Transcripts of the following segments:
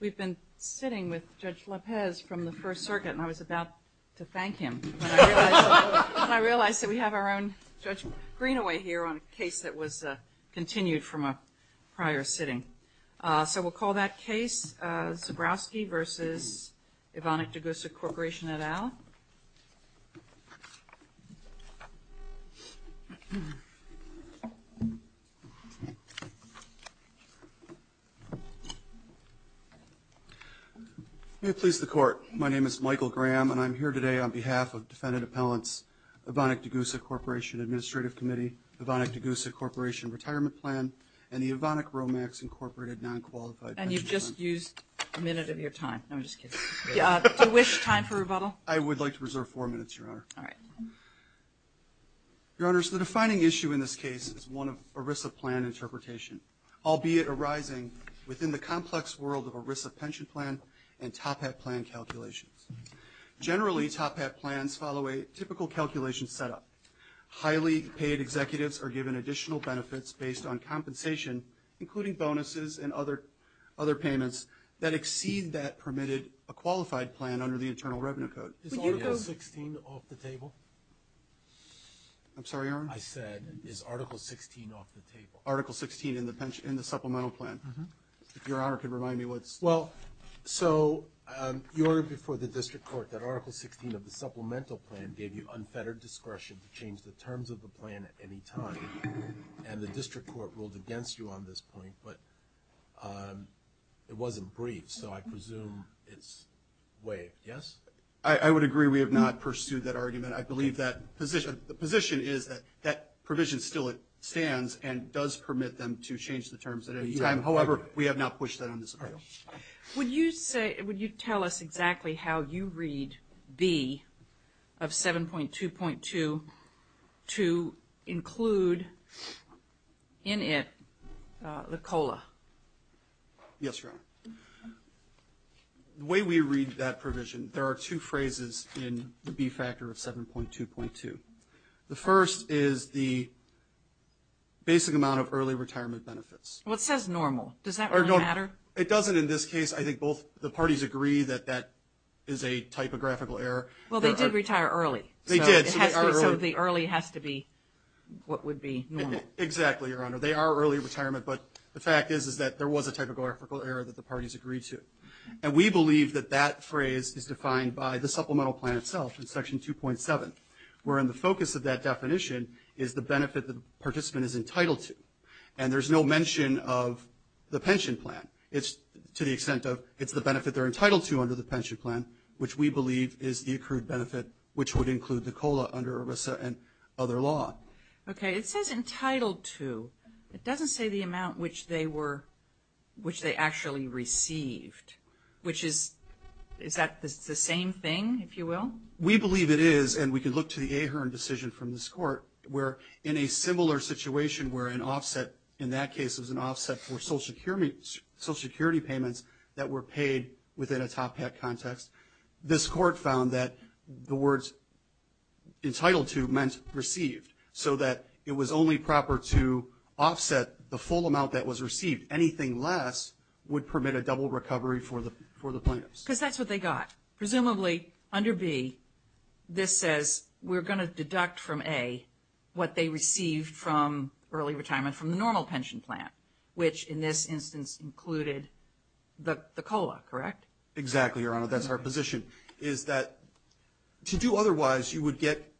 We've been sitting with Judge López from the First Circuit and I was about to thank him when I realized that we have our own Judge Greenaway here on a case that was continued from a prior sitting. So we'll call that case Zebrowski v. Evonik Degussa Corporation et al. Michael Graham May it please the Court, my name is Michael Graham and I'm here today on behalf of Defendant Appellants, Evonik Degussa Corporation Administrative Committee, Evonik Degussa Corporation Retirement Plan, and the Evonik Romax Incorporated Non-Qualified Pension Plan. And you've just used a minute of your time, no I'm just kidding. Do you wish time for rebuttal? I would like to reserve four minutes, Your Honor. All right. Your Honors, the defining issue in this case is one of ERISA plan interpretation, albeit arising within the complex world of ERISA pension plan and Top Hat plan calculations. Generally, Top Hat plans follow a typical calculation setup. Highly paid executives are given additional benefits based on compensation, including bonuses and other payments that exceed that permitted a qualified plan under the Internal Revenue Code. Is Article 16 off the table? I'm sorry, Your Honor? I said, is Article 16 off the table? Article 16 in the supplemental plan. Your Honor can remind me what's. Well, so you ordered before the district court that Article 16 of the supplemental plan gave you unfettered discretion to change the terms of the plan at any time, and the district court ruled against you on this point, but it wasn't brief, so I presume it's waived, yes? I would agree we have not pursued that argument. I believe that the position is that that provision still stands and does permit them to change the terms at any time. However, we have not pushed that on this appeal. Would you say, would you tell us exactly how you read B of 7.2.2 to include in it the COLA? Yes, Your Honor. The way we read that provision, there are two phrases in the B factor of 7.2.2. The first is the basic amount of early retirement benefits. What says normal? Does that really matter? It doesn't in this case. I think both the parties agree that that is a typographical error. Well, they did retire early. They did. So the early has to be what would be normal. Exactly, Your Honor. They are early retirement, but the fact is that there was a typographical error that the parties agreed to, and we believe that that phrase is defined by the supplemental plan itself in Section 2.7, where in the focus of that definition is the benefit the participant is entitled to, and there's no mention of the pension plan. It's to the extent of it's the benefit they're entitled to under the pension plan, which we believe is the accrued benefit, which would include the COLA under ERISA and other law. Okay. It says entitled to. It doesn't say the amount which they were, which they actually received, which is, is that the same thing, if you will? We believe it is, and we can look to the Ahearn decision from this Court, where in a similar situation where an offset, in that case it was an offset for Social Security payments that were paid within a top hat context, this Court found that the words entitled to meant received, so that it was only proper to offset the full amount that was received. Anything less would permit a double recovery for the plaintiffs. Because that's what they got. Presumably, under B, this says we're going to deduct from A what they received from early retirement from the normal pension plan, which in this instance included the COLA, correct? Exactly, Your Honor. That's our position, is that to do otherwise, you would get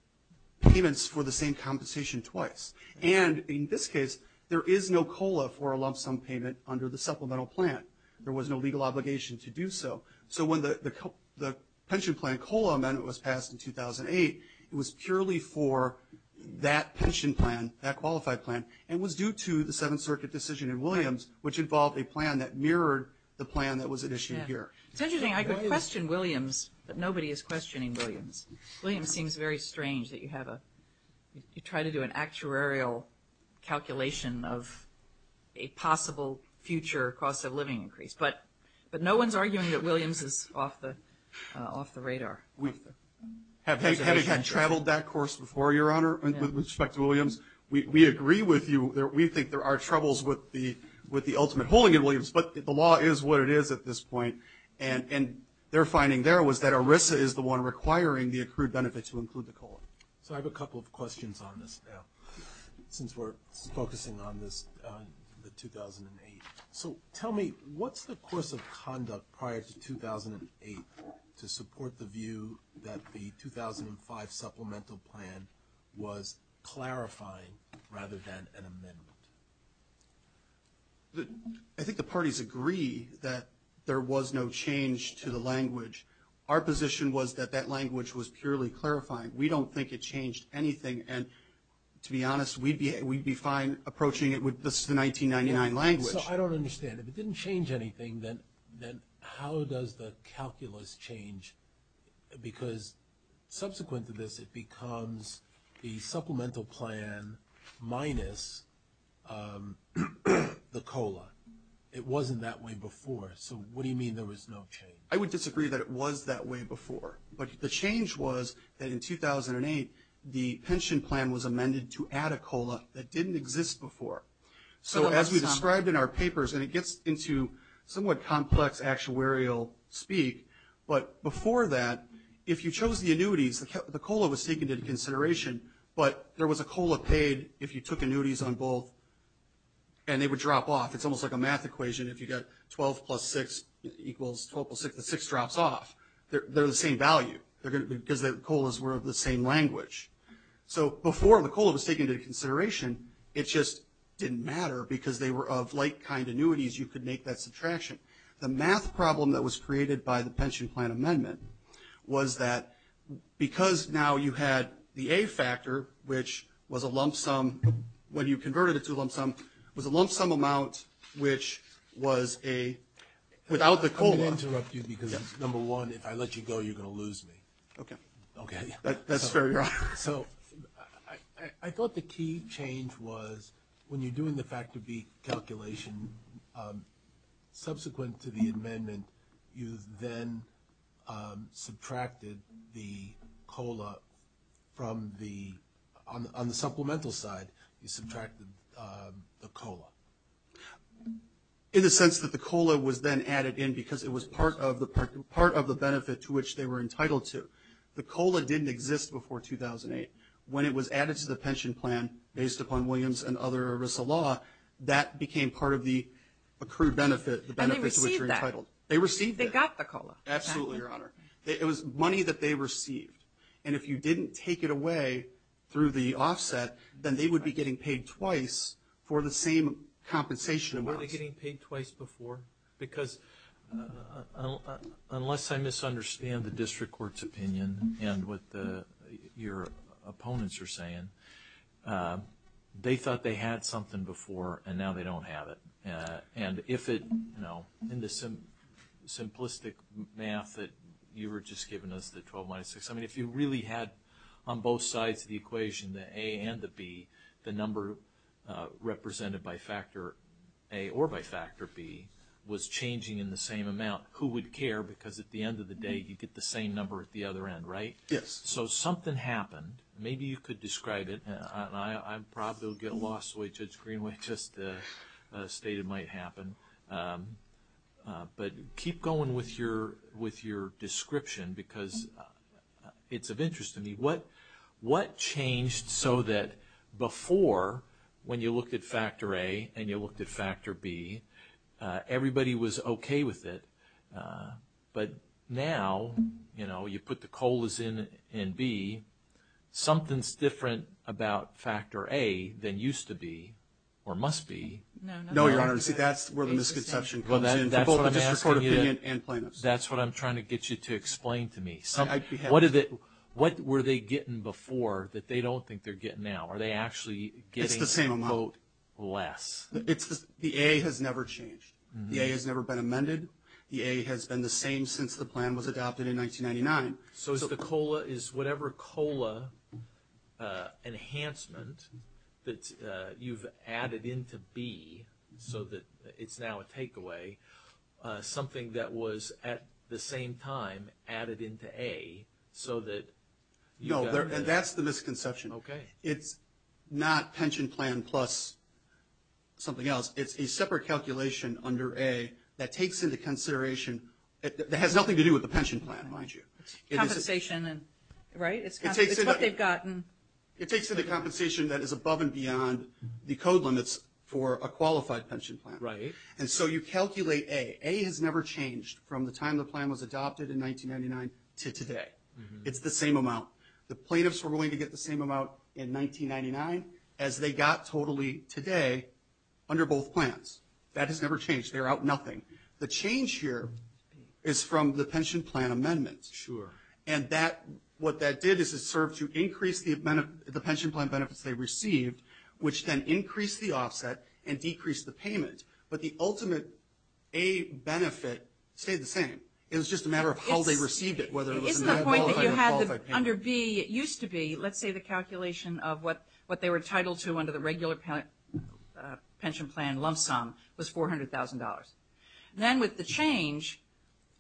payments for the same compensation twice. And in this case, there is no COLA for a lump sum payment under the supplemental plan. There was no legal obligation to do so. So when the pension plan COLA amendment was passed in 2008, it was purely for that pension plan, that qualified plan, and was due to the Seventh Circuit decision in Williams, which involved a plan that mirrored the plan that was issued here. It's interesting, I could question Williams, but nobody is questioning Williams. Williams seems very strange that you have a, you try to do an actuarial calculation of a possible future cost of living increase. But no one's arguing that Williams is off the radar. We have had traveled that course before, Your Honor, with respect to Williams. We agree with you. We think there are troubles with the ultimate holding in Williams, but the law is what it is at this point. And their finding there was that ERISA is the one requiring the accrued benefits to include the COLA. So I have a couple of questions on this now, since we're focusing on this, the 2008. So tell me, what's the course of conduct prior to 2008 to support the view that the 2005 supplemental plan was clarifying rather than an amendment? I think the parties agree that there was no change to the language. Our position was that that language was purely clarifying. We don't think it changed anything, and to be honest, we'd be fine approaching it with the 1999 language. So I don't understand. If it didn't change anything, then how does the calculus change? Because subsequent to this, it becomes the supplemental plan minus the COLA. It wasn't that way before, so what do you mean there was no change? I would disagree that it was that way before, but the change was that in 2008, the pension plan was amended to add a COLA that didn't exist before. So as we described in our papers, and it gets into somewhat complex actuarial speak, but before that, if you chose the annuities, the COLA was taken into consideration, but there was a COLA paid if you took annuities on both, and they would drop off. It's almost like a math equation. If you get 12 plus 6 equals 12 plus 6, the 6 drops off. They're the same value because the COLAs were of the same language. So before the COLA was taken into consideration, it just didn't matter because they were of like kind annuities, you could make that subtraction. The math problem that was created by the pension plan amendment was that because now you had the A factor, which was a lump sum, when you converted it to a lump sum, was a lump sum amount which was a, without the COLA. I'm going to interrupt you because, number one, if I let you go, you're going to lose me. Okay. Okay. That's very wrong. So I thought the key change was when you're doing the factor B calculation, subsequent to the amendment, you then subtracted the COLA from the, on the supplemental side, you subtracted the COLA. In the sense that the COLA was then added in because it was part of the benefit to which they were entitled to. The COLA didn't exist before 2008. When it was added to the pension plan based upon Williams and other ERISA law, that became part of the accrued benefit, the benefit to which you're entitled. They received that. They received that. They got the COLA. Absolutely, Your Honor. It was money that they received. And if you didn't take it away through the offset, then they would be getting paid twice for the same compensation amounts. Were they getting paid twice before? Because unless I misunderstand the district court's opinion and what your opponents are saying, they thought they had something before and now they don't have it. And if it, you know, in the simplistic math that you were just giving us, the 12 minus 6, I mean, if you really had on both sides of the equation, the A and the B, the number represented by factor A or by factor B was changing in the same amount, who would care? Because at the end of the day, you get the same number at the other end, right? Yes. So something happened. Maybe you could describe it. I'm probably going to get lost the way Judge Greenway just stated might happen. But keep going with your description because it's of interest to me. What changed so that before, when you looked at factor A and you looked at factor B, everybody was okay with it? But now, you know, you put the COLAs in B, something's different about factor A than used to be or must be. No, Your Honor. See, that's where the misconception comes in for both the district court opinion and plaintiffs. That's what I'm trying to get you to explain to me. What were they getting before that they don't think they're getting now? Are they actually getting, quote, less? It's the same amount. The A has never changed. The A has never been amended. The A has been the same since the plan was adopted in 1999. So is the COLA, is whatever COLA enhancement that you've added into B so that it's now a takeaway, something that was at the same time added into A so that you got a better – No, that's the misconception. Okay. It's not pension plan plus something else. It's a separate calculation under A that takes into consideration – that has nothing to do with the pension plan, mind you. Compensation, right? It's what they've gotten. It takes into compensation that is above and beyond the code limits for a qualified pension plan. And so you calculate A. A has never changed from the time the plan was adopted in 1999 to today. It's the same amount. The plaintiffs were willing to get the same amount in 1999 as they got totally today under both plans. That has never changed. They're out nothing. The change here is from the pension plan amendment. And what that did is it served to increase the pension plan benefits they received, which then increased the offset and decreased the payment. But the ultimate A benefit stayed the same. It was just a matter of how they received it, whether it was a qualified or not qualified payment. Isn't the point that you had – under B, it used to be, let's say the calculation of what they were entitled to under the regular pension plan lump sum was $400,000. Then with the change,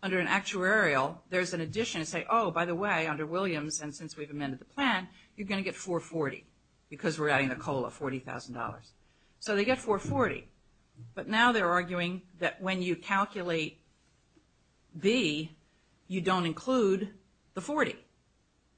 under an actuarial, there's an addition to say, oh, by the way, under Williams and since we've amended the plan, you're going to get 440 because we're adding the COLA, $40,000. So they get 440, but now they're arguing that when you calculate B, you don't include the 40.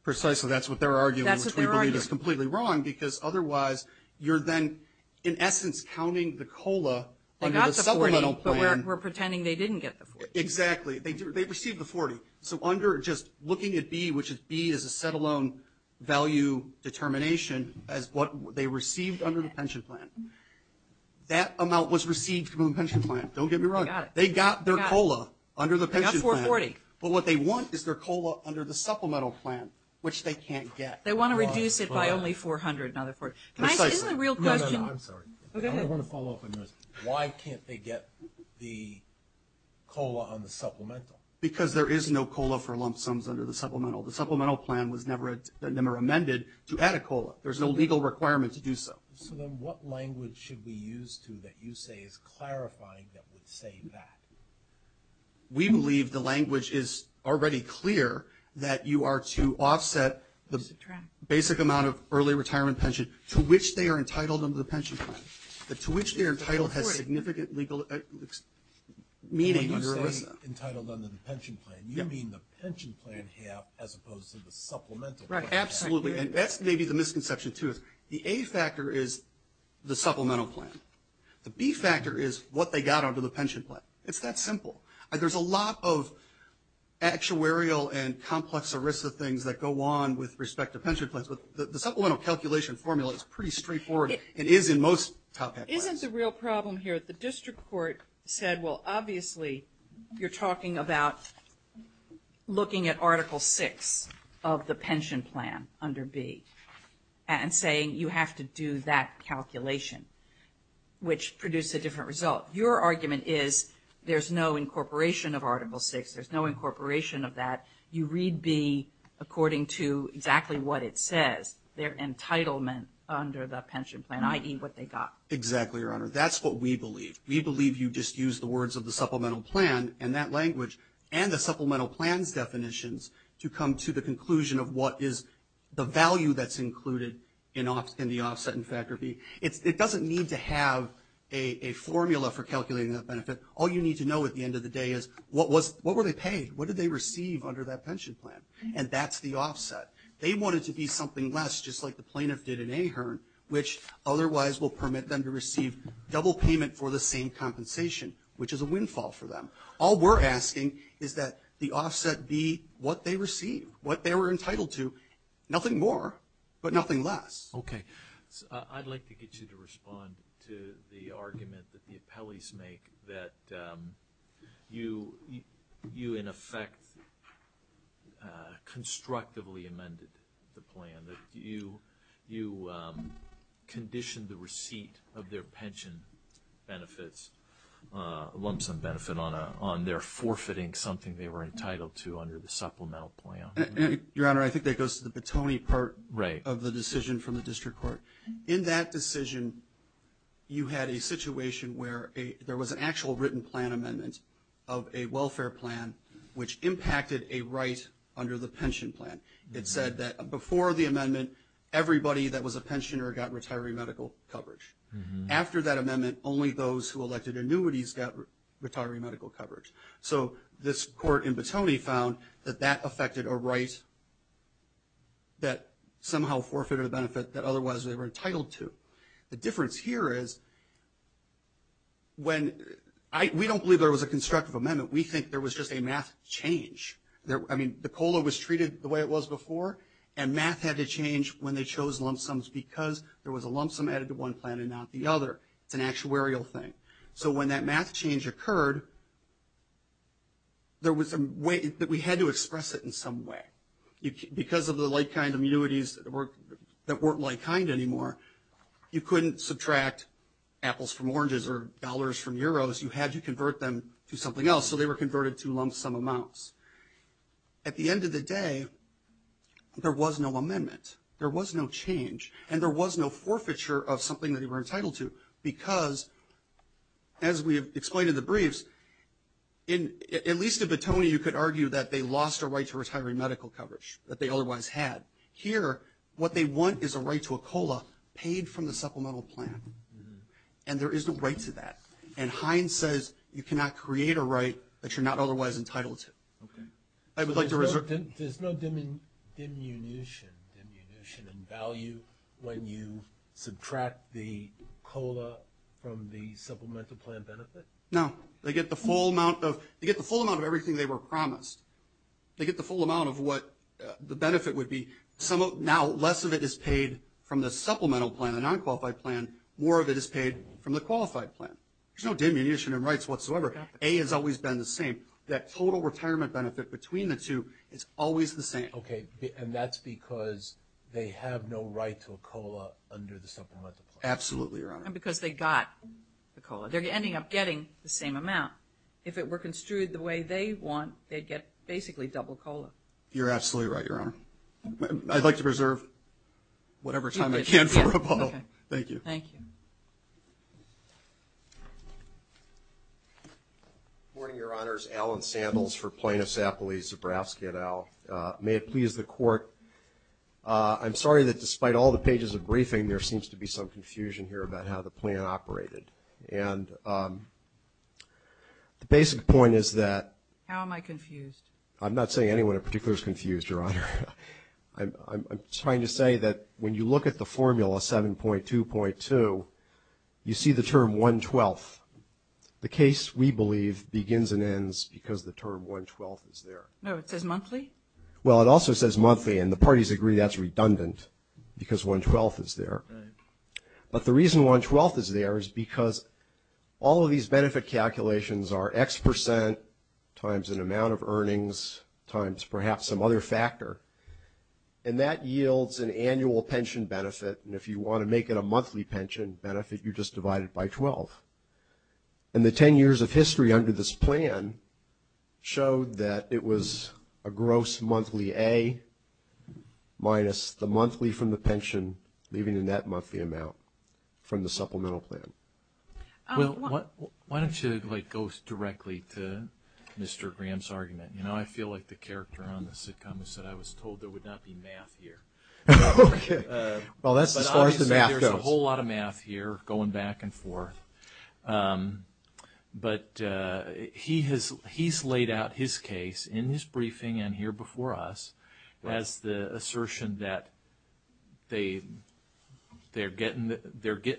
Precisely. That's what they're arguing. That's what they're arguing. Which we believe is completely wrong because otherwise you're then, in essence, counting the COLA under the supplemental plan. They got the 40, but we're pretending they didn't get the 40. Exactly. They received the 40. So under just looking at B, which B is a set alone value determination as what they received under the pension plan. That amount was received from the pension plan. Don't get me wrong. They got their COLA under the pension plan. They got 440. But what they want is their COLA under the supplemental plan, which they can't get. They want to reduce it by only 400. Now they're 40. Can I ask – is the real question – No, no, no. I'm sorry. Go ahead. I want to follow up on this. Why can't they get the COLA on the supplemental? Because there is no COLA for lump sums under the supplemental. The supplemental plan was never amended to add a COLA. There's no legal requirement to do so. So then what language should we use to that you say is clarifying that would say that? We believe the language is already clear that you are to offset the basic amount of early retirement pension to which they are entitled under the pension plan. To which they are entitled has significant legal meaning. When you say entitled under the pension plan, you mean the pension plan half as opposed to the supplemental plan half. Right. Absolutely. And that's maybe the misconception, too. The A factor is the supplemental plan. The B factor is what they got under the pension plan. It's that simple. There's a lot of actuarial and complex ERISA things that go on with respect to pension plans. But the supplemental calculation formula is pretty straightforward. It is in most top-down plans. Isn't the real problem here? But the district court said, well, obviously, you're talking about looking at Article VI of the pension plan under B and saying you have to do that calculation, which produced a different result. Your argument is there's no incorporation of Article VI. There's no incorporation of that. You read B according to exactly what it says. Their entitlement under the pension plan, i.e. what they got. Exactly, Your Honor. That's what we believe. We believe you just use the words of the supplemental plan and that language and the supplemental plan's definitions to come to the conclusion of what is the value that's included in the offset in Factor B. It doesn't need to have a formula for calculating that benefit. All you need to know at the end of the day is what were they paid? What did they receive under that pension plan? And that's the offset. They want it to be something less, just like the plaintiff did in AHERN, which otherwise will permit them to receive double payment for the same compensation, which is a windfall for them. All we're asking is that the offset be what they received, what they were entitled to. Nothing more, but nothing less. Okay. I'd like to get you to respond to the argument that the appellees make that you, in effect, constructively amended the plan, that you conditioned the receipt of their pension benefits, lump sum benefit, on their forfeiting something they were entitled to under the supplemental plan. Your Honor, I think that goes to the Patoni part of the decision from the district court. In that decision, you had a situation where there was an actual written plan amendment of a welfare plan, which impacted a right under the pension plan. It said that before the amendment, everybody that was a pensioner got retiree medical coverage. After that amendment, only those who elected annuities got retiree medical coverage. So this court in Patoni found that that affected a right that somehow forfeited a benefit that otherwise they were entitled to. The difference here is, we don't believe there was a constructive amendment. We think there was just a math change. The COLA was treated the way it was before, and math had to change when they chose lump sums because there was a lump sum added to one plan and not the other. It's an actuarial thing. So when that math change occurred, there was a way that we had to express it in some way. Because of the like-kind annuities that weren't like-kind anymore, you couldn't subtract apples from oranges or dollars from euros. You had to convert them to something else, so they were converted to lump sum amounts. At the end of the day, there was no amendment. There was no change, and there was no forfeiture of something that they were entitled to because, as we have explained in the briefs, at least in Patoni, you could argue that they lost their right to retiree medical coverage that they otherwise had. Here, what they want is a right to a COLA paid from the supplemental plan, and there is no right to that. And Hines says you cannot create a right that you're not otherwise entitled to. I would like to reserve... There's no diminution in value when you subtract the COLA from the supplemental plan benefit? No. They get the full amount of everything they were promised. They get the full amount of what the benefit would be. Now less of it is paid from the supplemental plan, the non-qualified plan, more of it is paid from the qualified plan. There's no diminution in rights whatsoever. A has always been the same. That total retirement benefit between the two is always the same. Okay, and that's because they have no right to a COLA under the supplemental plan? Absolutely, Your Honor. And because they got the COLA. They're ending up getting the same amount. If it were construed the way they want, they'd get basically double COLA. You're absolutely right, Your Honor. I'd like to preserve whatever time I can for a bottle. Thank you. Thank you. Good morning, Your Honors. Alan Sandals for Plaintiffs' Appellees, Zabrowski et al. May it please the Court, I'm sorry that despite all the pages of briefing, there seems to be some confusion here about how the plan operated. And the basic point is that... How am I confused? I'm not saying anyone in particular is confused, Your Honor. I'm trying to say that when you look at the formula 7.2.2, you see the term 112th. The case, we believe, begins and ends because the term 112th is there. No, it says monthly? Well, it also says monthly, and the parties agree that's redundant because 112th is there. But the reason 112th is there is because all of these benefit calculations are X percent times an amount of earnings times perhaps some other factor, and that yields an annual pension benefit. And if you want to make it a monthly pension benefit, you just divide it by 12. And the 10 years of history under this plan showed that it was a gross monthly A minus the monthly from the pension, leaving in that monthly amount from the supplemental plan. Well, why don't you go directly to Mr. Graham's argument? You know, I feel like the character on the sitcom said I was told there would not be math here. Okay. Well, that's as far as the math goes. But obviously, there's a whole lot of math here going back and forth. But he's laid out his case in his briefing and here before us as the assertion that they're getting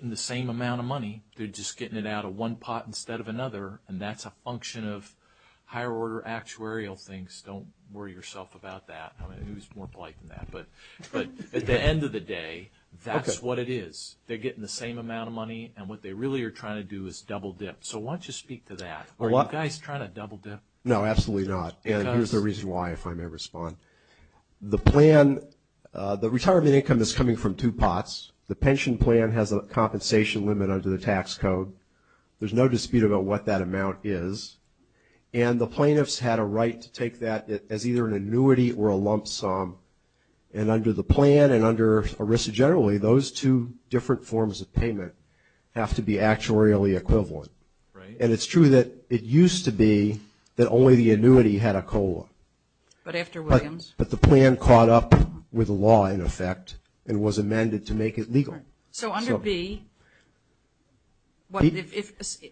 the same amount of money. They're just getting it out of one pot instead of another, and that's a function of higher order actuarial things. Don't worry yourself about that. I mean, who's more polite than that? But at the end of the day, that's what it is. They're getting the same amount of money, and what they really are trying to do is double dip. So why don't you speak to that? Are you guys trying to double dip? No, absolutely not. And here's the reason why, if I may respond. The plan, the retirement income is coming from two pots. The pension plan has a compensation limit under the tax code. There's no dispute about what that amount is. And the plaintiffs had a right to take that as either an annuity or a lump sum. And under the plan and under ERISA generally, those two different forms of payment have to be actuarially equivalent. And it's true that it used to be that only the annuity had a COLA. But the plan caught up with the law, in effect, and was amended to make it legal. So under B,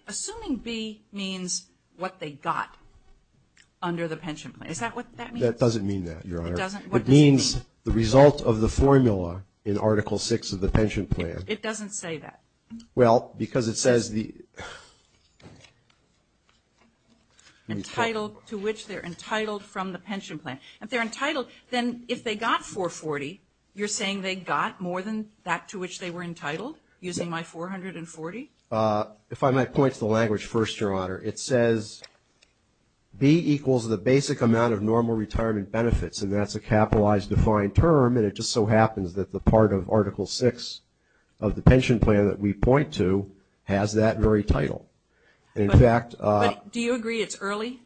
assuming B means what they got under the pension plan, is that what that means? No, that doesn't mean that, Your Honor. It doesn't? What does it mean? It means the result of the formula in Article 6 of the pension plan. It doesn't say that. Well, because it says the... Entitled to which they're entitled from the pension plan. If they're entitled, then if they got 440, you're saying they got more than that to which they were entitled, using my 440? If I might point to the language first, Your Honor. It says B equals the basic amount of normal retirement benefits, and that's a capitalized defined term. And it just so happens that the part of Article 6 of the pension plan that we point to has that very title. In fact... But do you agree it's early?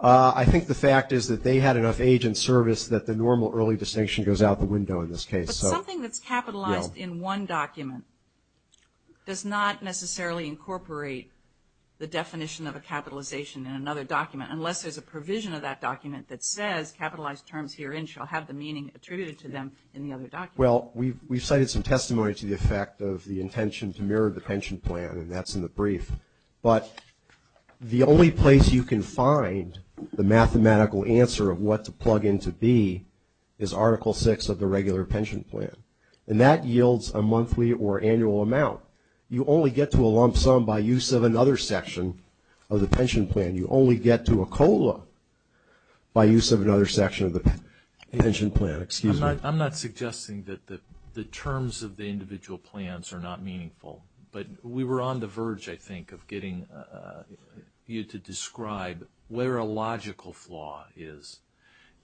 I think the fact is that they had enough age and service that the normal early distinction goes out the window in this case. But something that's capitalized in one document does not necessarily incorporate the definition. of a capitalization in another document, unless there's a provision of that document that says capitalized terms herein shall have the meaning attributed to them in the other document. Well, we've cited some testimony to the effect of the intention to mirror the pension plan, and that's in the brief. But the only place you can find the mathematical answer of what to plug in to B is Article 6 of the regular pension plan. And that yields a monthly or annual amount. You only get to a lump sum by use of another section of the pension plan. You only get to a COLA by use of another section of the pension plan. Excuse me. I'm not suggesting that the terms of the individual plans are not meaningful, but we were on the verge, I think, of getting you to describe where a logical flaw is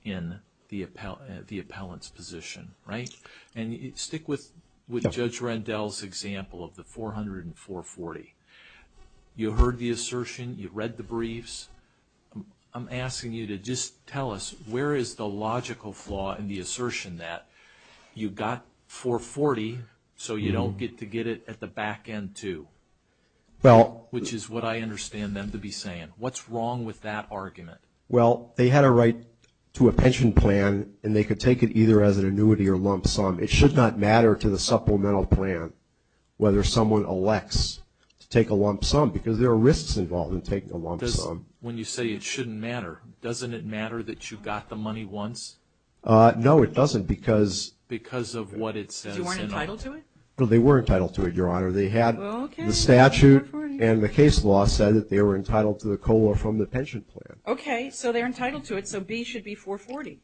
in the appellant's position, right? And stick with Judge Rendell's example of the 400 and 440. You heard the assertion. You read the briefs. I'm asking you to just tell us where is the logical flaw in the assertion that you got 440, so you don't get to get it at the back end too, which is what I understand them to be saying. What's wrong with that argument? Well, they had a right to a pension plan, and they could take it either as an annuity or lump sum. It should not matter to the supplemental plan whether someone elects to take a lump sum, because there are risks involved in taking a lump sum. When you say it shouldn't matter, doesn't it matter that you got the money once? No, it doesn't, because of what it says in it. You weren't entitled to it? No, they were entitled to it, Your Honor. They had the statute and the case law said that they were entitled to the COLA from the pension plan. Okay, so they're entitled to it, so B should be 440.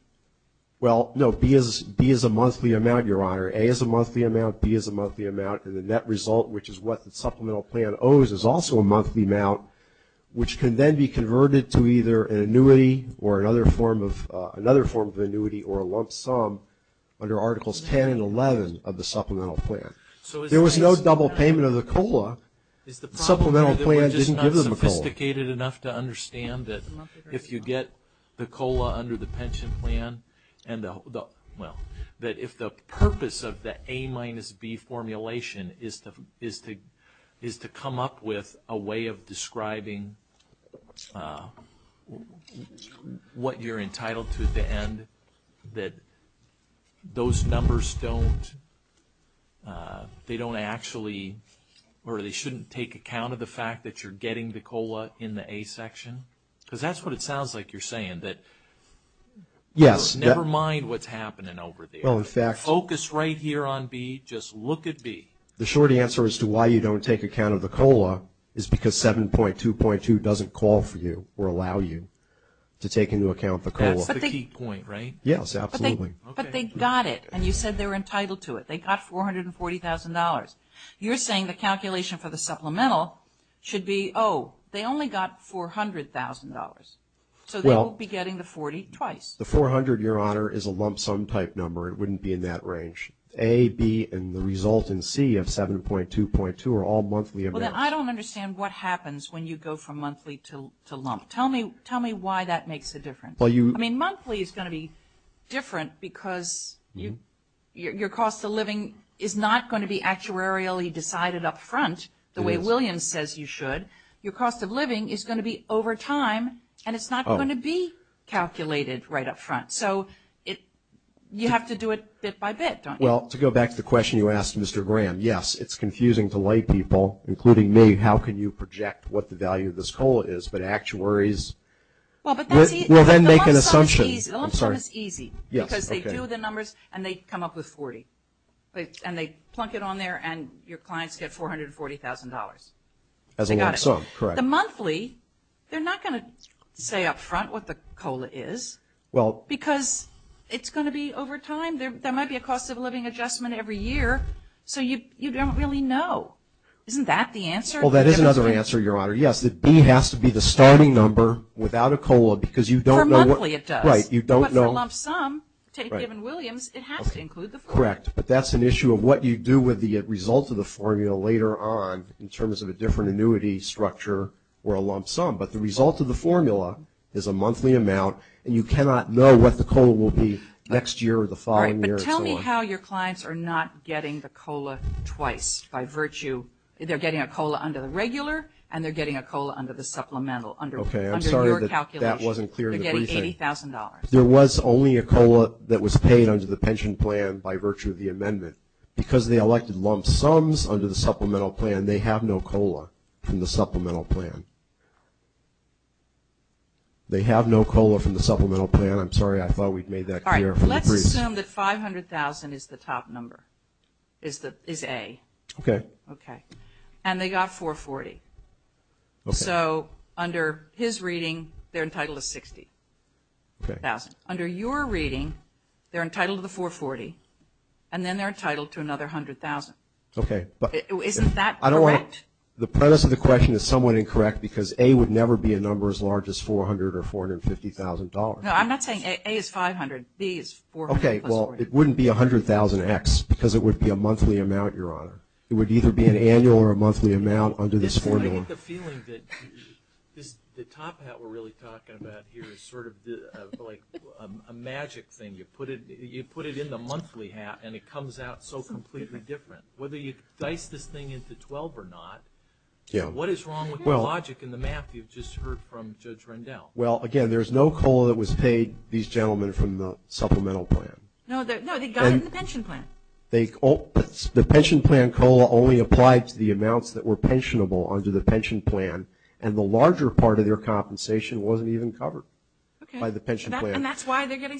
Well, no, B is a monthly amount, Your Honor. A is a monthly amount, B is a monthly amount, and the net result, which is what the supplemental plan owes, is also a monthly amount, which can then be converted to either an annuity or another form of annuity or a lump sum under Articles 10 and 11 of the supplemental plan. There was no double payment of the COLA. The supplemental plan didn't give them a COLA. Is the problem that we're just not sophisticated enough to understand that if you get the COLA under the pension plan and the, well, that if the purpose of the A minus B formulation is to come up with a way of describing what you're entitled to at the end, that those numbers don't, they don't actually, or they shouldn't take account of the fact that you're That's what it sounds like you're saying, that never mind what's happening over there. Well, in fact. Focus right here on B, just look at B. The short answer as to why you don't take account of the COLA is because 7.2.2 doesn't call for you or allow you to take into account the COLA. That's the key point, right? Yes, absolutely. Okay. But they got it, and you said they were entitled to it. They got $440,000. You're saying the calculation for the supplemental should be, oh, they only got $400,000. So they won't be getting the 40 twice. The 400, Your Honor, is a lump sum type number. It wouldn't be in that range. A, B, and the result in C of 7.2.2 are all monthly amounts. Well, then I don't understand what happens when you go from monthly to lump. Tell me why that makes a difference. I mean, monthly is going to be different because your cost of living is not going to be actuarially decided up front the way Williams says you should. Your cost of living is going to be over time, and it's not going to be calculated right up front. So you have to do it bit by bit, don't you? Well, to go back to the question you asked, Mr. Graham, yes, it's confusing to lay people, including me, how can you project what the value of this COLA is, but actuaries will then make an assumption. The lump sum is easy. I'm sorry. The lump sum is easy. Yes. Okay. So they do the numbers, and they come up with 40. And they plunk it on there, and your clients get $440,000. As a lump sum, correct. They got it. The monthly, they're not going to say up front what the COLA is because it's going to be over time. There might be a cost of living adjustment every year, so you don't really know. Isn't that the answer? Well, that is another answer, Your Honor. Yes, B has to be the starting number without a COLA because you don't know what... For monthly, it does. Right. You don't know... But for a lump sum, take Gibbons-Williams, it has to include the formula. Correct. But that's an issue of what you do with the result of the formula later on in terms of a different annuity structure or a lump sum. But the result of the formula is a monthly amount, and you cannot know what the COLA will be next year or the following year, and so on. All right. But tell me how your clients are not getting the COLA twice by virtue. They're getting a COLA under the regular, and they're getting a COLA under the supplemental, under your calculation. Okay. I'm sorry that that wasn't clear in the briefing. Okay. $80,000. There was only a COLA that was paid under the pension plan by virtue of the amendment. Because they elected lump sums under the supplemental plan, they have no COLA from the supplemental plan. They have no COLA from the supplemental plan. I'm sorry. I thought we'd made that clear from the briefing. All right. Let's assume that 500,000 is the top number, is A. Okay. Okay. And they got 440. Okay. So under his reading, they're entitled to 60,000. Under your reading, they're entitled to the 440, and then they're entitled to another 100,000. Okay. Isn't that correct? The premise of the question is somewhat incorrect because A would never be a number as large as 400 or $450,000. No, I'm not saying A is 500. B is 400 plus 40. Okay. Well, it wouldn't be 100,000x because it would be a monthly amount, Your Honor. It would either be an annual or a monthly amount under this formula. I get the feeling that the top hat we're really talking about here is sort of like a magic thing. You put it in the monthly hat, and it comes out so completely different. Whether you dice this thing into 12 or not, what is wrong with the logic and the math you've just heard from Judge Rendell? Well, again, there's no COLA that was paid, these gentlemen, from the supplemental plan. No, they got it in the pension plan. The pension plan COLA only applied to the amounts that were pensionable under the pension plan, and the larger part of their compensation wasn't even covered by the pension plan. Okay. And that's why they're getting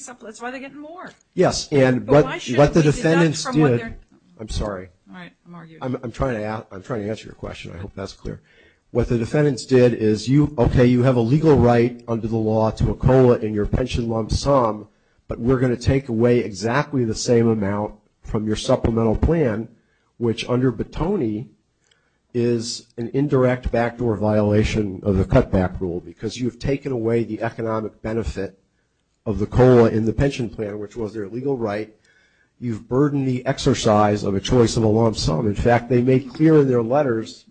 more. Yes. But why should we deduct from what they're... What the defendants did... I'm sorry. All right. I'm arguing. I'm trying to answer your question. I hope that's clear. What the defendants did is, okay, you have a legal right under the law to a COLA in your the same amount from your supplemental plan, which under Bettoni is an indirect backdoor violation of the cutback rule, because you've taken away the economic benefit of the COLA in the pension plan, which was their legal right. You've burdened the exercise of a choice of a lump sum. In fact, they made clear in their letters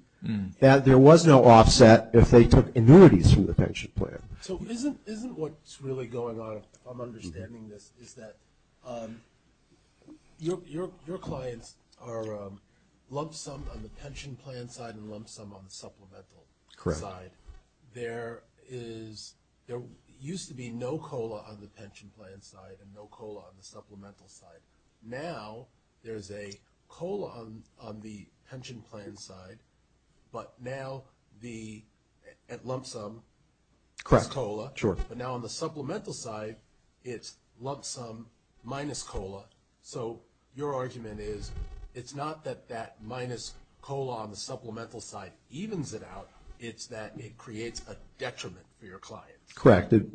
that there was no offset if they took annuities from the pension plan. So isn't what's really going on, if I'm understanding this, is that your clients are lump sum on the pension plan side and lump sum on the supplemental side. There used to be no COLA on the pension plan side and no COLA on the supplemental side. Now there's a COLA on the pension plan side, but now the lump sum plus COLA. Correct. Sure. But now on the supplemental side, it's lump sum minus COLA. So your argument is, it's not that that minus COLA on the supplemental side evens it out. It's that it creates a detriment for your clients. Correct. It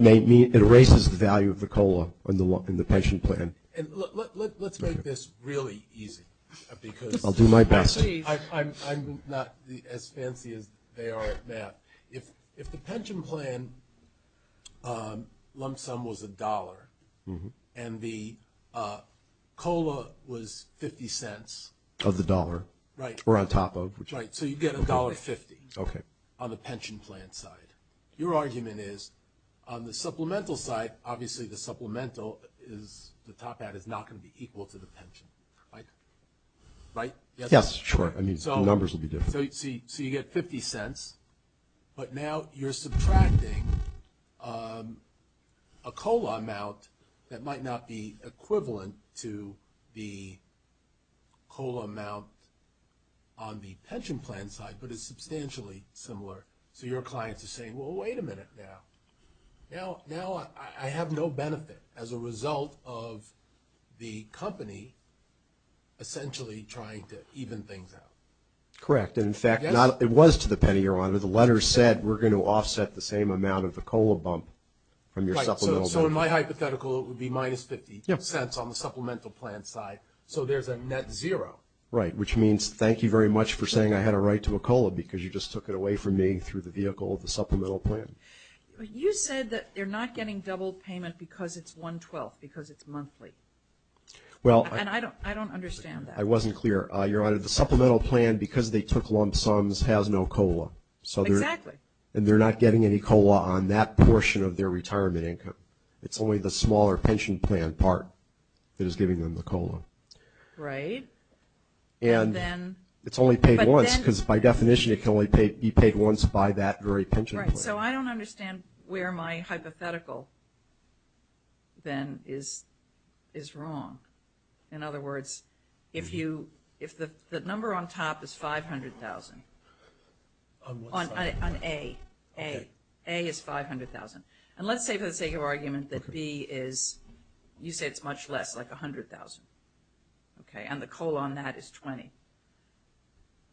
erases the value of the COLA in the pension plan. Let's make this really easy because I'm not as fancy as they are at math. If the pension plan lump sum was $1 and the COLA was $0.50. Of the dollar. Right. Or on top of. Right. So you get $1.50 on the pension plan side. Your argument is, on the supplemental side, obviously the supplemental is, the top hat is not going to be equal to the pension. Right? Right? Yes. Sure. I mean, the numbers will be different. So you get $0.50, but now you're subtracting a COLA amount that might not be equivalent to the COLA amount on the pension plan side, but it's substantially similar. So your clients are saying, well, wait a minute now. Now, I have no benefit as a result of the company essentially trying to even things out. Correct. And in fact, it was to the penny, Your Honor. The letter said we're going to offset the same amount of the COLA bump from your supplemental. So in my hypothetical, it would be minus $0.50 on the supplemental plan side. So there's a net zero. Right. Which means, thank you very much for saying I had a right to a COLA because you just took it away from me through the vehicle of the supplemental plan. But you said that they're not getting double payment because it's $1.12, because it's monthly. And I don't understand that. I wasn't clear. Your Honor, the supplemental plan, because they took lump sums, has no COLA. Exactly. And they're not getting any COLA on that portion of their retirement income. It's only the smaller pension plan part that is giving them the COLA. Right. And it's only paid once because by definition, it can only be paid once by that very pension plan. Right. So I don't understand where my hypothetical then is wrong. In other words, if the number on top is $500,000, on A, A is $500,000. And let's say for the sake of argument that B is, you say it's much less, like $100,000. Okay. And the COLA on that is $20,000.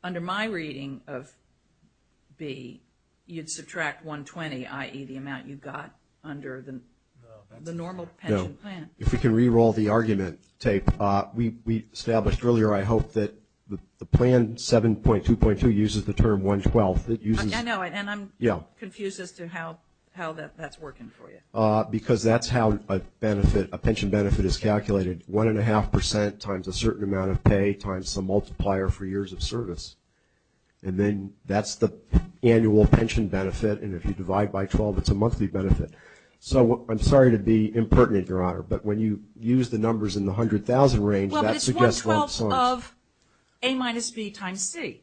Under my reading of B, you'd subtract $120,000, i.e. the amount you got under the normal pension plan. No. If we can re-roll the argument tape. We established earlier, I hope, that the plan 7.2.2 uses the term $112,000. I know. And I'm confused as to how that's working for you. Because that's how a pension benefit is calculated. One and a half percent times a certain amount of pay times the multiplier for years of service. And then that's the annual pension benefit. And if you divide by 12, it's a monthly benefit. So I'm sorry to be impertinent, Your Honor. But when you use the numbers in the $100,000 range, that suggests wrong sums. Well, but it's $112,000 of A minus B times C.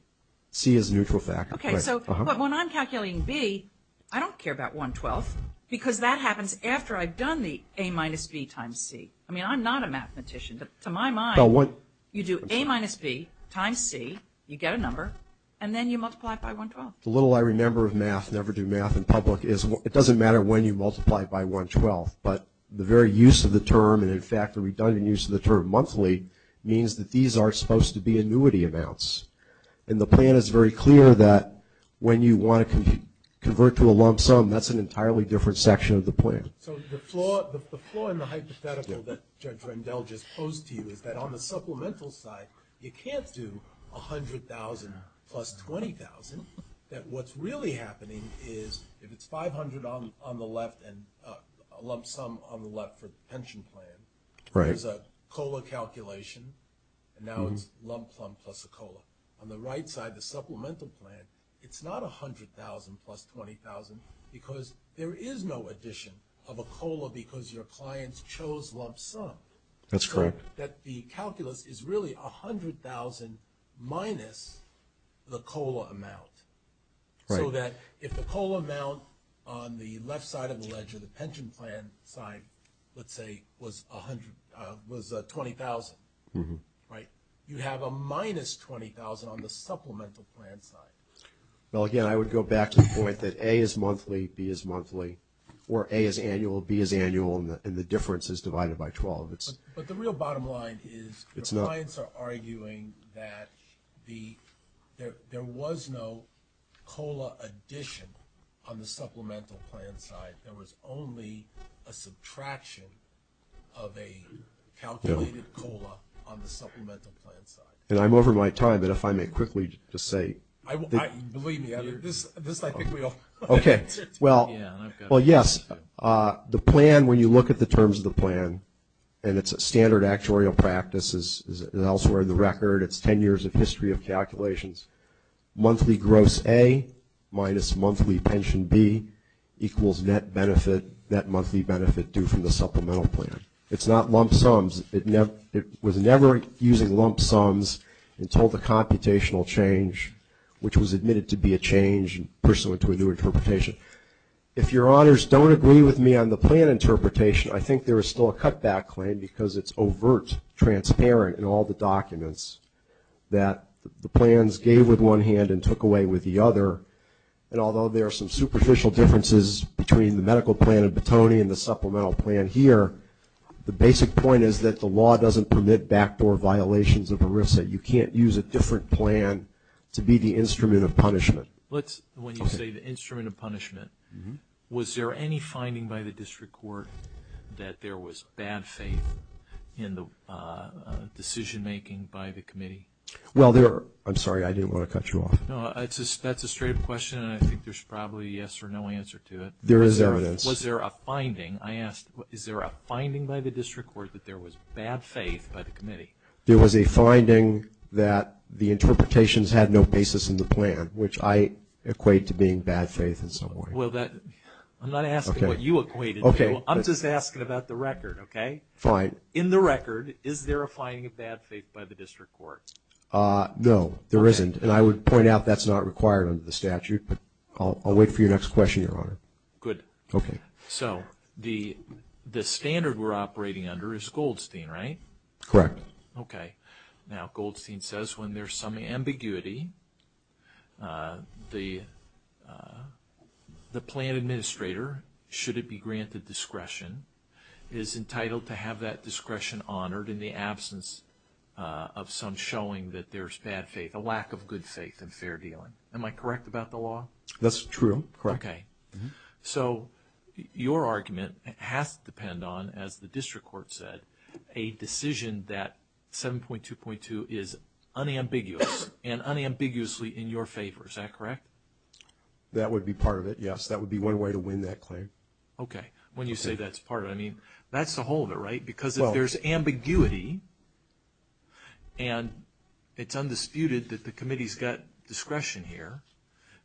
C is a neutral factor. Okay. So when I'm calculating B, I don't care about $112,000. Because that happens after I've done the A minus B times C. I mean, I'm not a mathematician. But to my mind, you do A minus B times C. You get a number. And then you multiply it by $112,000. The little I remember of math, never do math in public, is it doesn't matter when you multiply by $112,000. But the very use of the term, and in fact, the redundant use of the term monthly, means that these are supposed to be annuity amounts. And the plan is very clear that when you want to convert to a lump sum, that's an entirely different section of the plan. So the flaw in the hypothetical that Judge Rendell just posed to you is that on the supplemental side, you can't do $100,000 plus $20,000. That what's really happening is if it's $500,000 on the left and a lump sum on the left for pension plan, there's a COLA calculation, and now it's lump sum plus a COLA. On the right side, the supplemental plan, it's not $100,000 plus $20,000 because there is no addition of a COLA because your clients chose lump sum. That's correct. So that the calculus is really $100,000 minus the COLA amount. Right. So that if the COLA amount on the left side of the ledger, the pension plan side, let's say, was $20,000, right? You have a minus $20,000 on the supplemental plan side. Well, again, I would go back to the point that A is monthly, B is monthly, or A is annual, B is annual, and the difference is divided by 12. But the real bottom line is your clients are arguing that there was no COLA addition on the supplemental plan side. There was only a subtraction of a calculated COLA on the supplemental plan side. And I'm over my time, but if I may quickly just say... Believe me, this I think we all... Okay. Well, yes. The plan, when you look at the terms of the plan, and it's a standard actuarial practice is elsewhere in the record. It's 10 years of history of calculations. Monthly gross A minus monthly pension B equals net benefit, net monthly benefit due from the supplemental plan. It's not lump sums. It was never using lump sums until the computational change, which was admitted to be a change pursuant to a new interpretation. If your honors don't agree with me on the plan interpretation, I think there is still a cutback claim because it's overt, transparent in all the documents that the plans gave with one hand and took away with the other. And although there are some superficial differences between the medical plan of Batoni and the supplemental plan here, the basic point is that the law doesn't permit backdoor violations of ERISA. You can't use a different plan to be the instrument of punishment. Let's... When you say the instrument of punishment, was there any finding by the district court that there was bad faith in the decision making by the committee? Well, there... I'm sorry. I didn't want to cut you off. No, that's a straight up question, and I think there's probably a yes or no answer to it. There is evidence. Was there a finding? I asked, is there a finding by the district court that there was bad faith by the committee? There was a finding that the interpretations had no basis in the plan, which I equate to being bad faith in some way. Well, that... I'm not asking what you equate it to. I'm just asking about the record, okay? Fine. In the record, is there a finding of bad faith by the district court? No, there isn't. And I would point out that's not required under the statute, but I'll wait for your next question, Your Honor. Good. Okay. So, the standard we're operating under is Goldstein, right? Correct. Okay. Now, Goldstein says when there's some ambiguity, the plan administrator, should it be granted discretion, is entitled to have that discretion honored in the absence of some showing that there's bad faith, a lack of good faith in fair dealing. Am I correct about the law? That's true. Correct. Okay. So, your argument has to depend on, as the district court said, a decision that 7.2.2 is unambiguous, and unambiguously in your favor. Is that correct? That would be part of it, yes. That would be one way to win that claim. Okay. When you say that's part of it, I mean, that's the whole of it, right? Because if there's ambiguity and it's undisputed that the committee's got discretion here,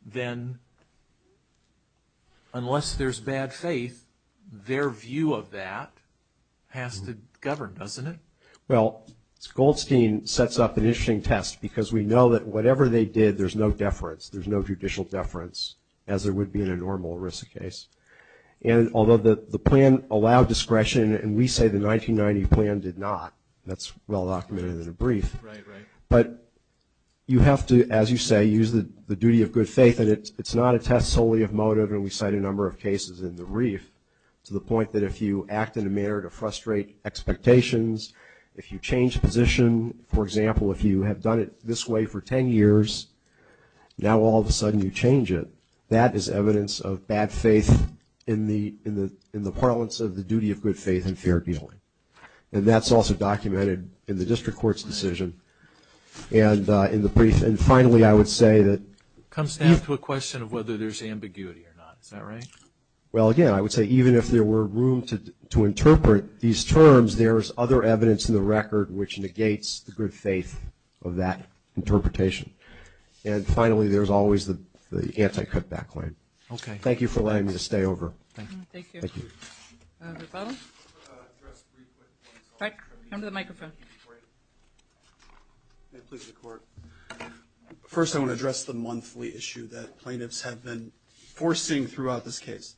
then unless there's bad faith, their view of that has to govern, doesn't it? Well, Goldstein sets up an interesting test, because we know that whatever they did, there's no deference, there's no judicial deference, as there would be in a normal ERISA case. And although the plan allowed discretion, and we say the 1990 plan did not, that's well documented in a brief. Right, right. But you have to, as you say, use the duty of good faith, and it's not a test solely of motive, and we cite a number of cases in the brief, to the point that if you act in a manner to frustrate expectations, if you change position, for example, if you have done it this way for 10 years, now all of a sudden you change it, that is evidence of bad faith in the parlance of the duty of good faith and fair dealing. And that's also documented in the district court's decision, and in the brief. And finally, I would say that... It comes down to a question of whether there's ambiguity or not. Is that right? Well, again, I would say even if there were room to interpret these terms, there's other evidence in the record which negates the good faith of that interpretation. And finally, there's always the anti-cutback claim. Okay. Thank you for letting me stay over. Thank you. Thank you. Rebuttal? I want to address three points. Come to the microphone. Great. May it please the court. First, I want to address the monthly issue that plaintiffs have been forcing throughout this case.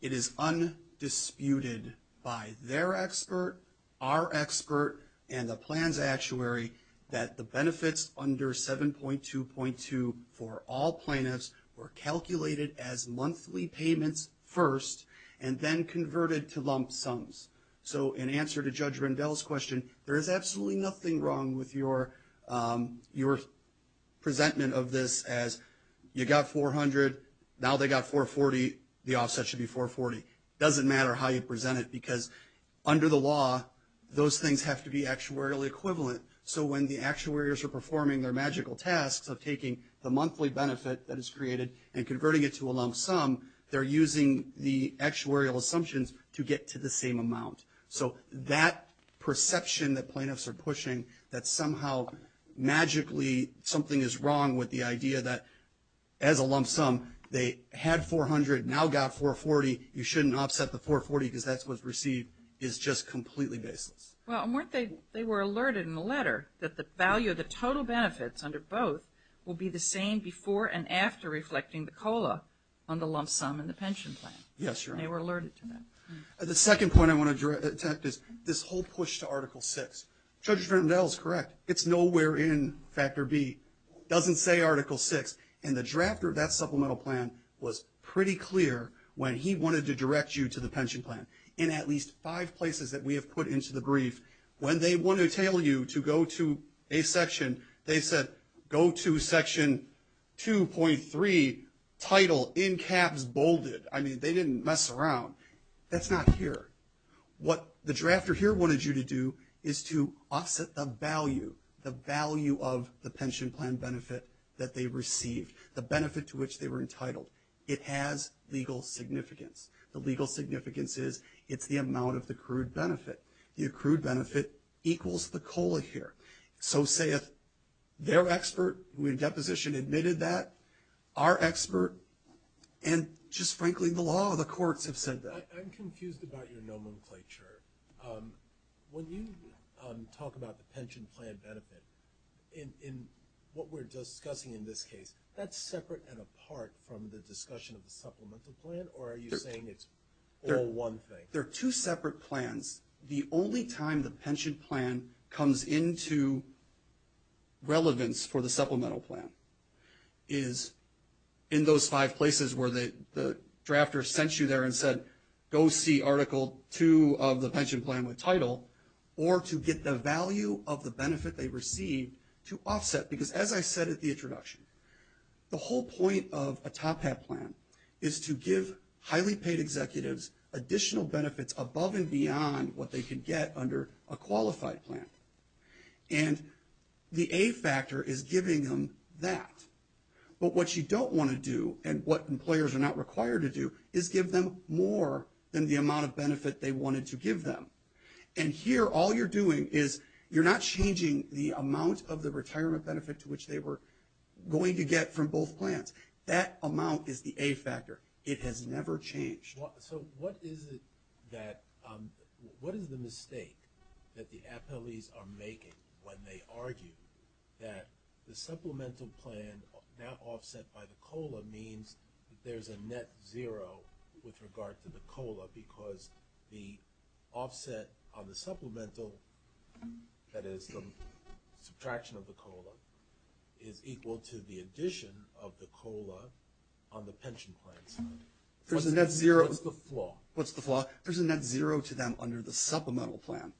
It is undisputed by their expert, our expert, and the plan's actuary that the benefits under 7.2.2 for all plaintiffs were calculated as monthly lump sums. So in answer to Judge Rendell's question, there is absolutely nothing wrong with your presentment of this as you got 400, now they got 440, the offset should be 440. It doesn't matter how you present it because under the law, those things have to be actuarially equivalent. So when the actuaries are performing their magical tasks of taking the monthly benefit that is created and converting it to a lump sum, they're using the actuarial assumptions to get to the same amount. So that perception that plaintiffs are pushing, that somehow magically something is wrong with the idea that as a lump sum, they had 400, now got 440, you shouldn't offset the 440 because that's what's received is just completely baseless. Well, weren't they, they were alerted in the letter that the value of the total benefits under both will be the same before and after reflecting the COLA on the lump sum and the pension plan. Yes, Your Honor. And they were alerted to that. The second point I want to direct is this whole push to Article VI. Judge Rendell is correct. It's nowhere in Factor B. It doesn't say Article VI. And the drafter of that supplemental plan was pretty clear when he wanted to direct you to the pension plan. In at least five places that we have put into the brief, when they want to tell you to go to a section, they said go to Section 2.3, TITLE, in caps, BOLDED. I mean, they didn't mess around. That's not here. What the drafter here wanted you to do is to offset the value, the value of the pension plan benefit that they received, the benefit to which they were entitled. It has legal significance. The legal significance is it's the amount of the accrued benefit. The accrued benefit equals the COLA here. So say if their expert, who in deposition admitted that, our expert, and just frankly the law, the courts have said that. I'm confused about your nomenclature. When you talk about the pension plan benefit, in what we're discussing in this case, that's separate and apart from the discussion of the supplemental plan, or are you saying it's all one thing? They're two separate plans. The only time the pension plan comes into relevance for the supplemental plan is in those five places where the drafter sent you there and said, go see Article 2 of the pension plan with TITLE, or to get the value of the benefit they received to offset. Because as I said at the introduction, the whole point of a top hat plan is to give highly paid executives additional benefits above and beyond what they could get under a qualified plan. And the A factor is giving them that. But what you don't want to do, and what employers are not required to do, is give them more than the amount of benefit they wanted to give them. And here all you're doing is you're not changing the amount of the retirement benefit to which they were going to get from both plans. That amount is the A factor. It has never changed. So what is it that – what is the mistake that the appellees are making when they argue that the supplemental plan, now offset by the COLA, means that there's a net zero with regard to the COLA because the offset on the supplemental, that is the subtraction of the COLA, is equal to the addition of the COLA on the pension plan side? What's the flaw? What's the flaw? There's a net zero to them under the supplemental plan.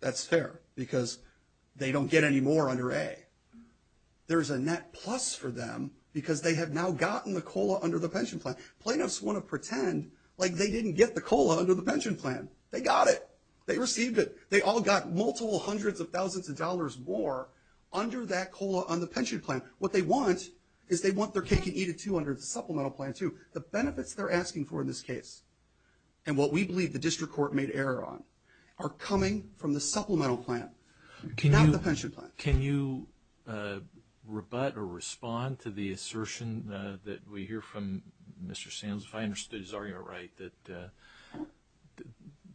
That's fair because they don't get any more under A. There's a net plus for them because they have now gotten the COLA under the pension plan. Plaintiffs want to pretend like they didn't get the COLA under the pension plan. They got it. They received it. They all got multiple hundreds of thousands of dollars more under that COLA on the pension plan. What they want is they want their cake and eat it too under the supplemental plan too. The benefits they're asking for in this case and what we believe the district court made error on are coming from the supplemental plan, not the pension plan. Can you rebut or respond to the assertion that we hear from Mr. Sands, if I understood his argument right, that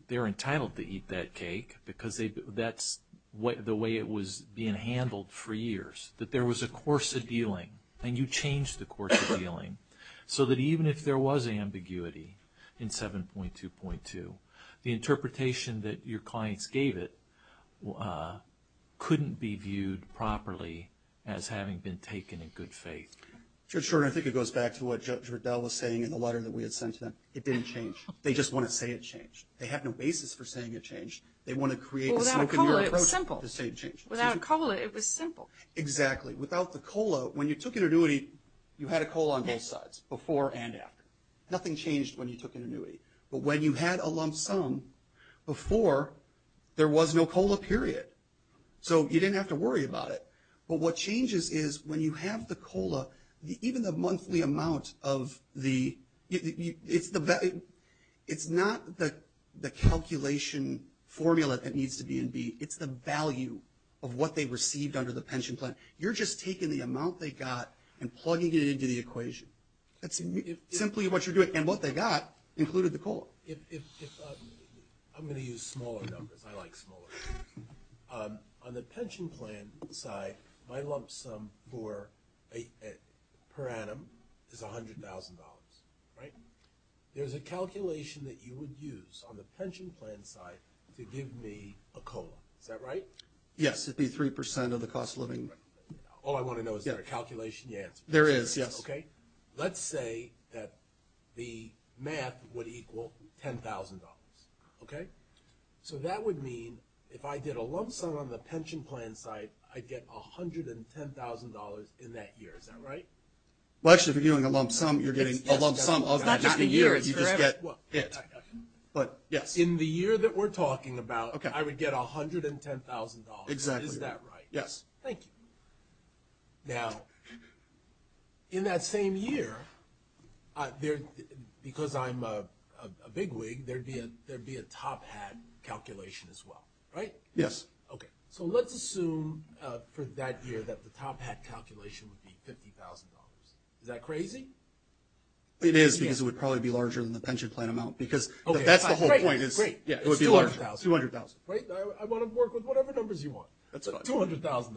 they're entitled to eat that cake because that's the way it was being handled for years, that there was a course of dealing and you changed the course of dealing so that even if there was ambiguity in 7.2.2, the interpretation that your clients gave it couldn't be viewed properly as having been taken in good faith? Judge Shorten, I think it goes back to what Judge Riddell was saying in the letter that we had sent to them. It didn't change. They just want to say it changed. They have no basis for saying it changed. They want to create a smoke and mirror approach to say it changed. Without COLA it was simple. Exactly. Without the COLA, when you took an annuity, you had a COLA on both sides, before and after. Nothing changed when you took an annuity. But when you had a lump sum before, there was no COLA, period. So you didn't have to worry about it. But what changes is when you have the COLA, even the monthly amount of the – it's not the calculation formula that needs to be in B. It's the value of what they received under the pension plan. You're just taking the amount they got and plugging it into the equation. That's simply what you're doing. And what they got included the COLA. I'm going to use smaller numbers. I like smaller numbers. On the pension plan side, my lump sum per annum is $100,000, right? There's a calculation that you would use on the pension plan side to give me a COLA. Is that right? Yes. It would be 3% of the cost of living. All I want to know is, is there a calculation you answered? There is, yes. Okay. Let's say that the math would equal $10,000. Okay? So that would mean if I did a lump sum on the pension plan side, I'd get $110,000 in that year. Is that right? Well, actually, if you're doing a lump sum, you're getting a lump sum of the year. It's not just the year. It's correct. You just get it. But, yes. In the year that we're talking about, I would get $110,000. Exactly. Is that right? Yes. Thank you. Now, in that same year, because I'm a bigwig, there would be a top hat calculation as well, right? Yes. Okay. So let's assume for that year that the top hat calculation would be $50,000. Is that crazy? It is because it would probably be larger than the pension plan amount. Because that's the whole point. Great. It would be larger. $200,000. Great. I want to work with whatever numbers you want. That's fine. $200,000.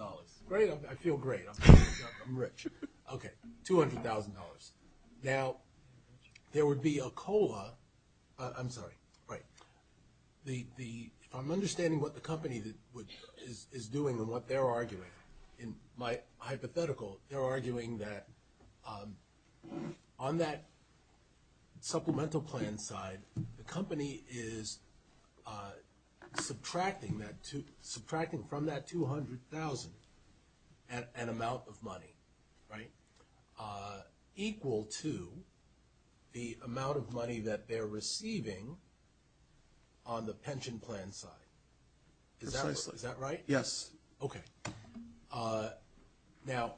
Great. I feel great. I'm rich. Okay. $200,000. Now, there would be a COLA. I'm sorry. Right. If I'm understanding what the company is doing and what they're arguing, my hypothetical, they're arguing that on that supplemental plan side, the company is subtracting from that $200,000 an amount of money, right, equal to the amount of money that they're receiving on the pension plan side. Is that right? Yes. Yes. Okay. Now,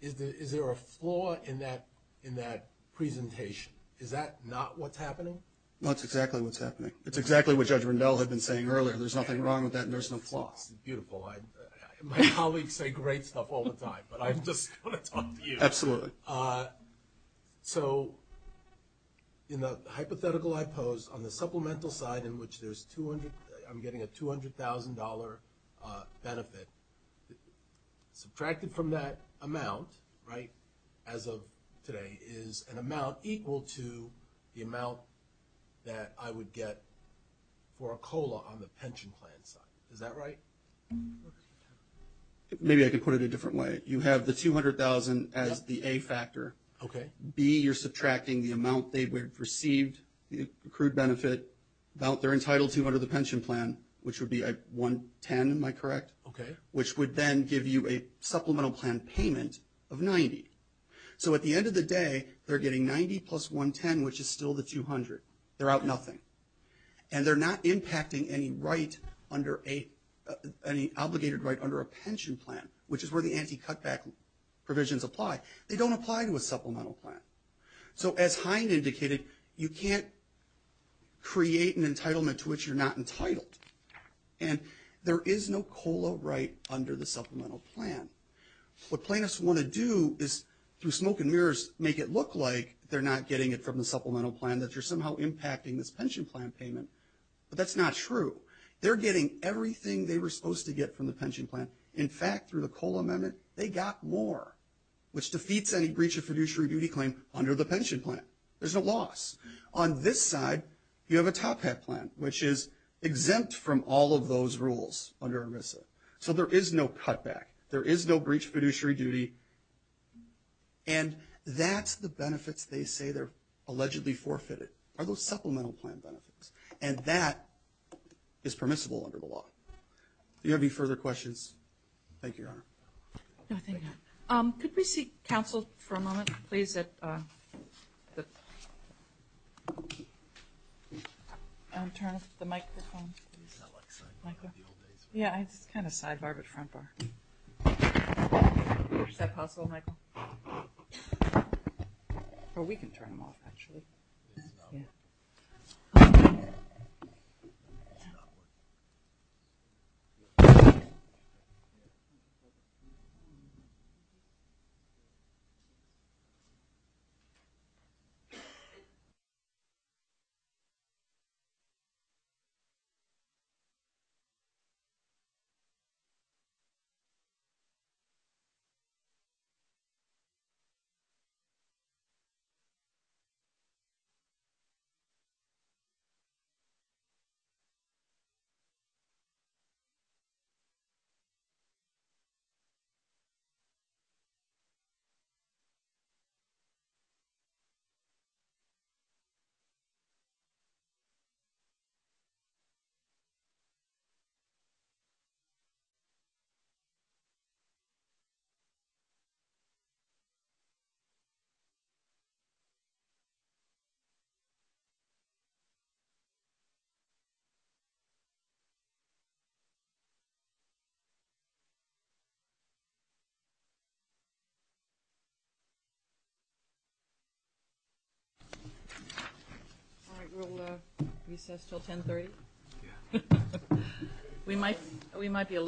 is there a flaw in that presentation? Is that not what's happening? No, it's exactly what's happening. It's exactly what Judge Rendell had been saying earlier. There's nothing wrong with that and there's no flaw. Beautiful. My colleagues say great stuff all the time, but I'm just going to talk to you. Absolutely. So in the hypothetical I pose, on the supplemental side in which there's $200,000 benefit, subtracted from that amount, right, as of today, is an amount equal to the amount that I would get for a COLA on the pension plan side. Is that right? Maybe I could put it a different way. You have the $200,000 as the A factor. Okay. B, you're subtracting the amount they would have received, the accrued benefit, about they're entitled to under the pension plan, which would be $110,000. Am I correct? Okay. Which would then give you a supplemental plan payment of $90,000. So at the end of the day, they're getting $90,000 plus $110,000, which is still the $200,000. They're out nothing. And they're not impacting any right, any obligated right under a pension plan, which is where the anti-cutback provisions apply. They don't apply to a supplemental plan. So as Hind indicated, you can't create an entitlement to which you're not entitled. And there is no COLA right under the supplemental plan. What plaintiffs want to do is, through smoke and mirrors, make it look like they're not getting it from the supplemental plan, that you're somehow impacting this pension plan payment. But that's not true. They're getting everything they were supposed to get from the pension plan. In fact, through the COLA amendment, they got more, which defeats any breach of fiduciary duty claim under the pension plan. There's no loss. On this side, you have a top hat plan, which is exempt from all of those rules under ERISA. So there is no cutback. There is no breach of fiduciary duty. And that's the benefits they say they're allegedly forfeited, are those supplemental plan benefits. And that is permissible under the law. Do you have any further questions? Thank you, Your Honor. No, thank you. Could we see counsel for a moment, please? Turn the microphone. Yeah, it's kind of sidebar but front bar. Is that possible, Michael? Or we can turn them off, actually. Yeah. Thank you. All right. We'll recess until 1030. We might be a little late.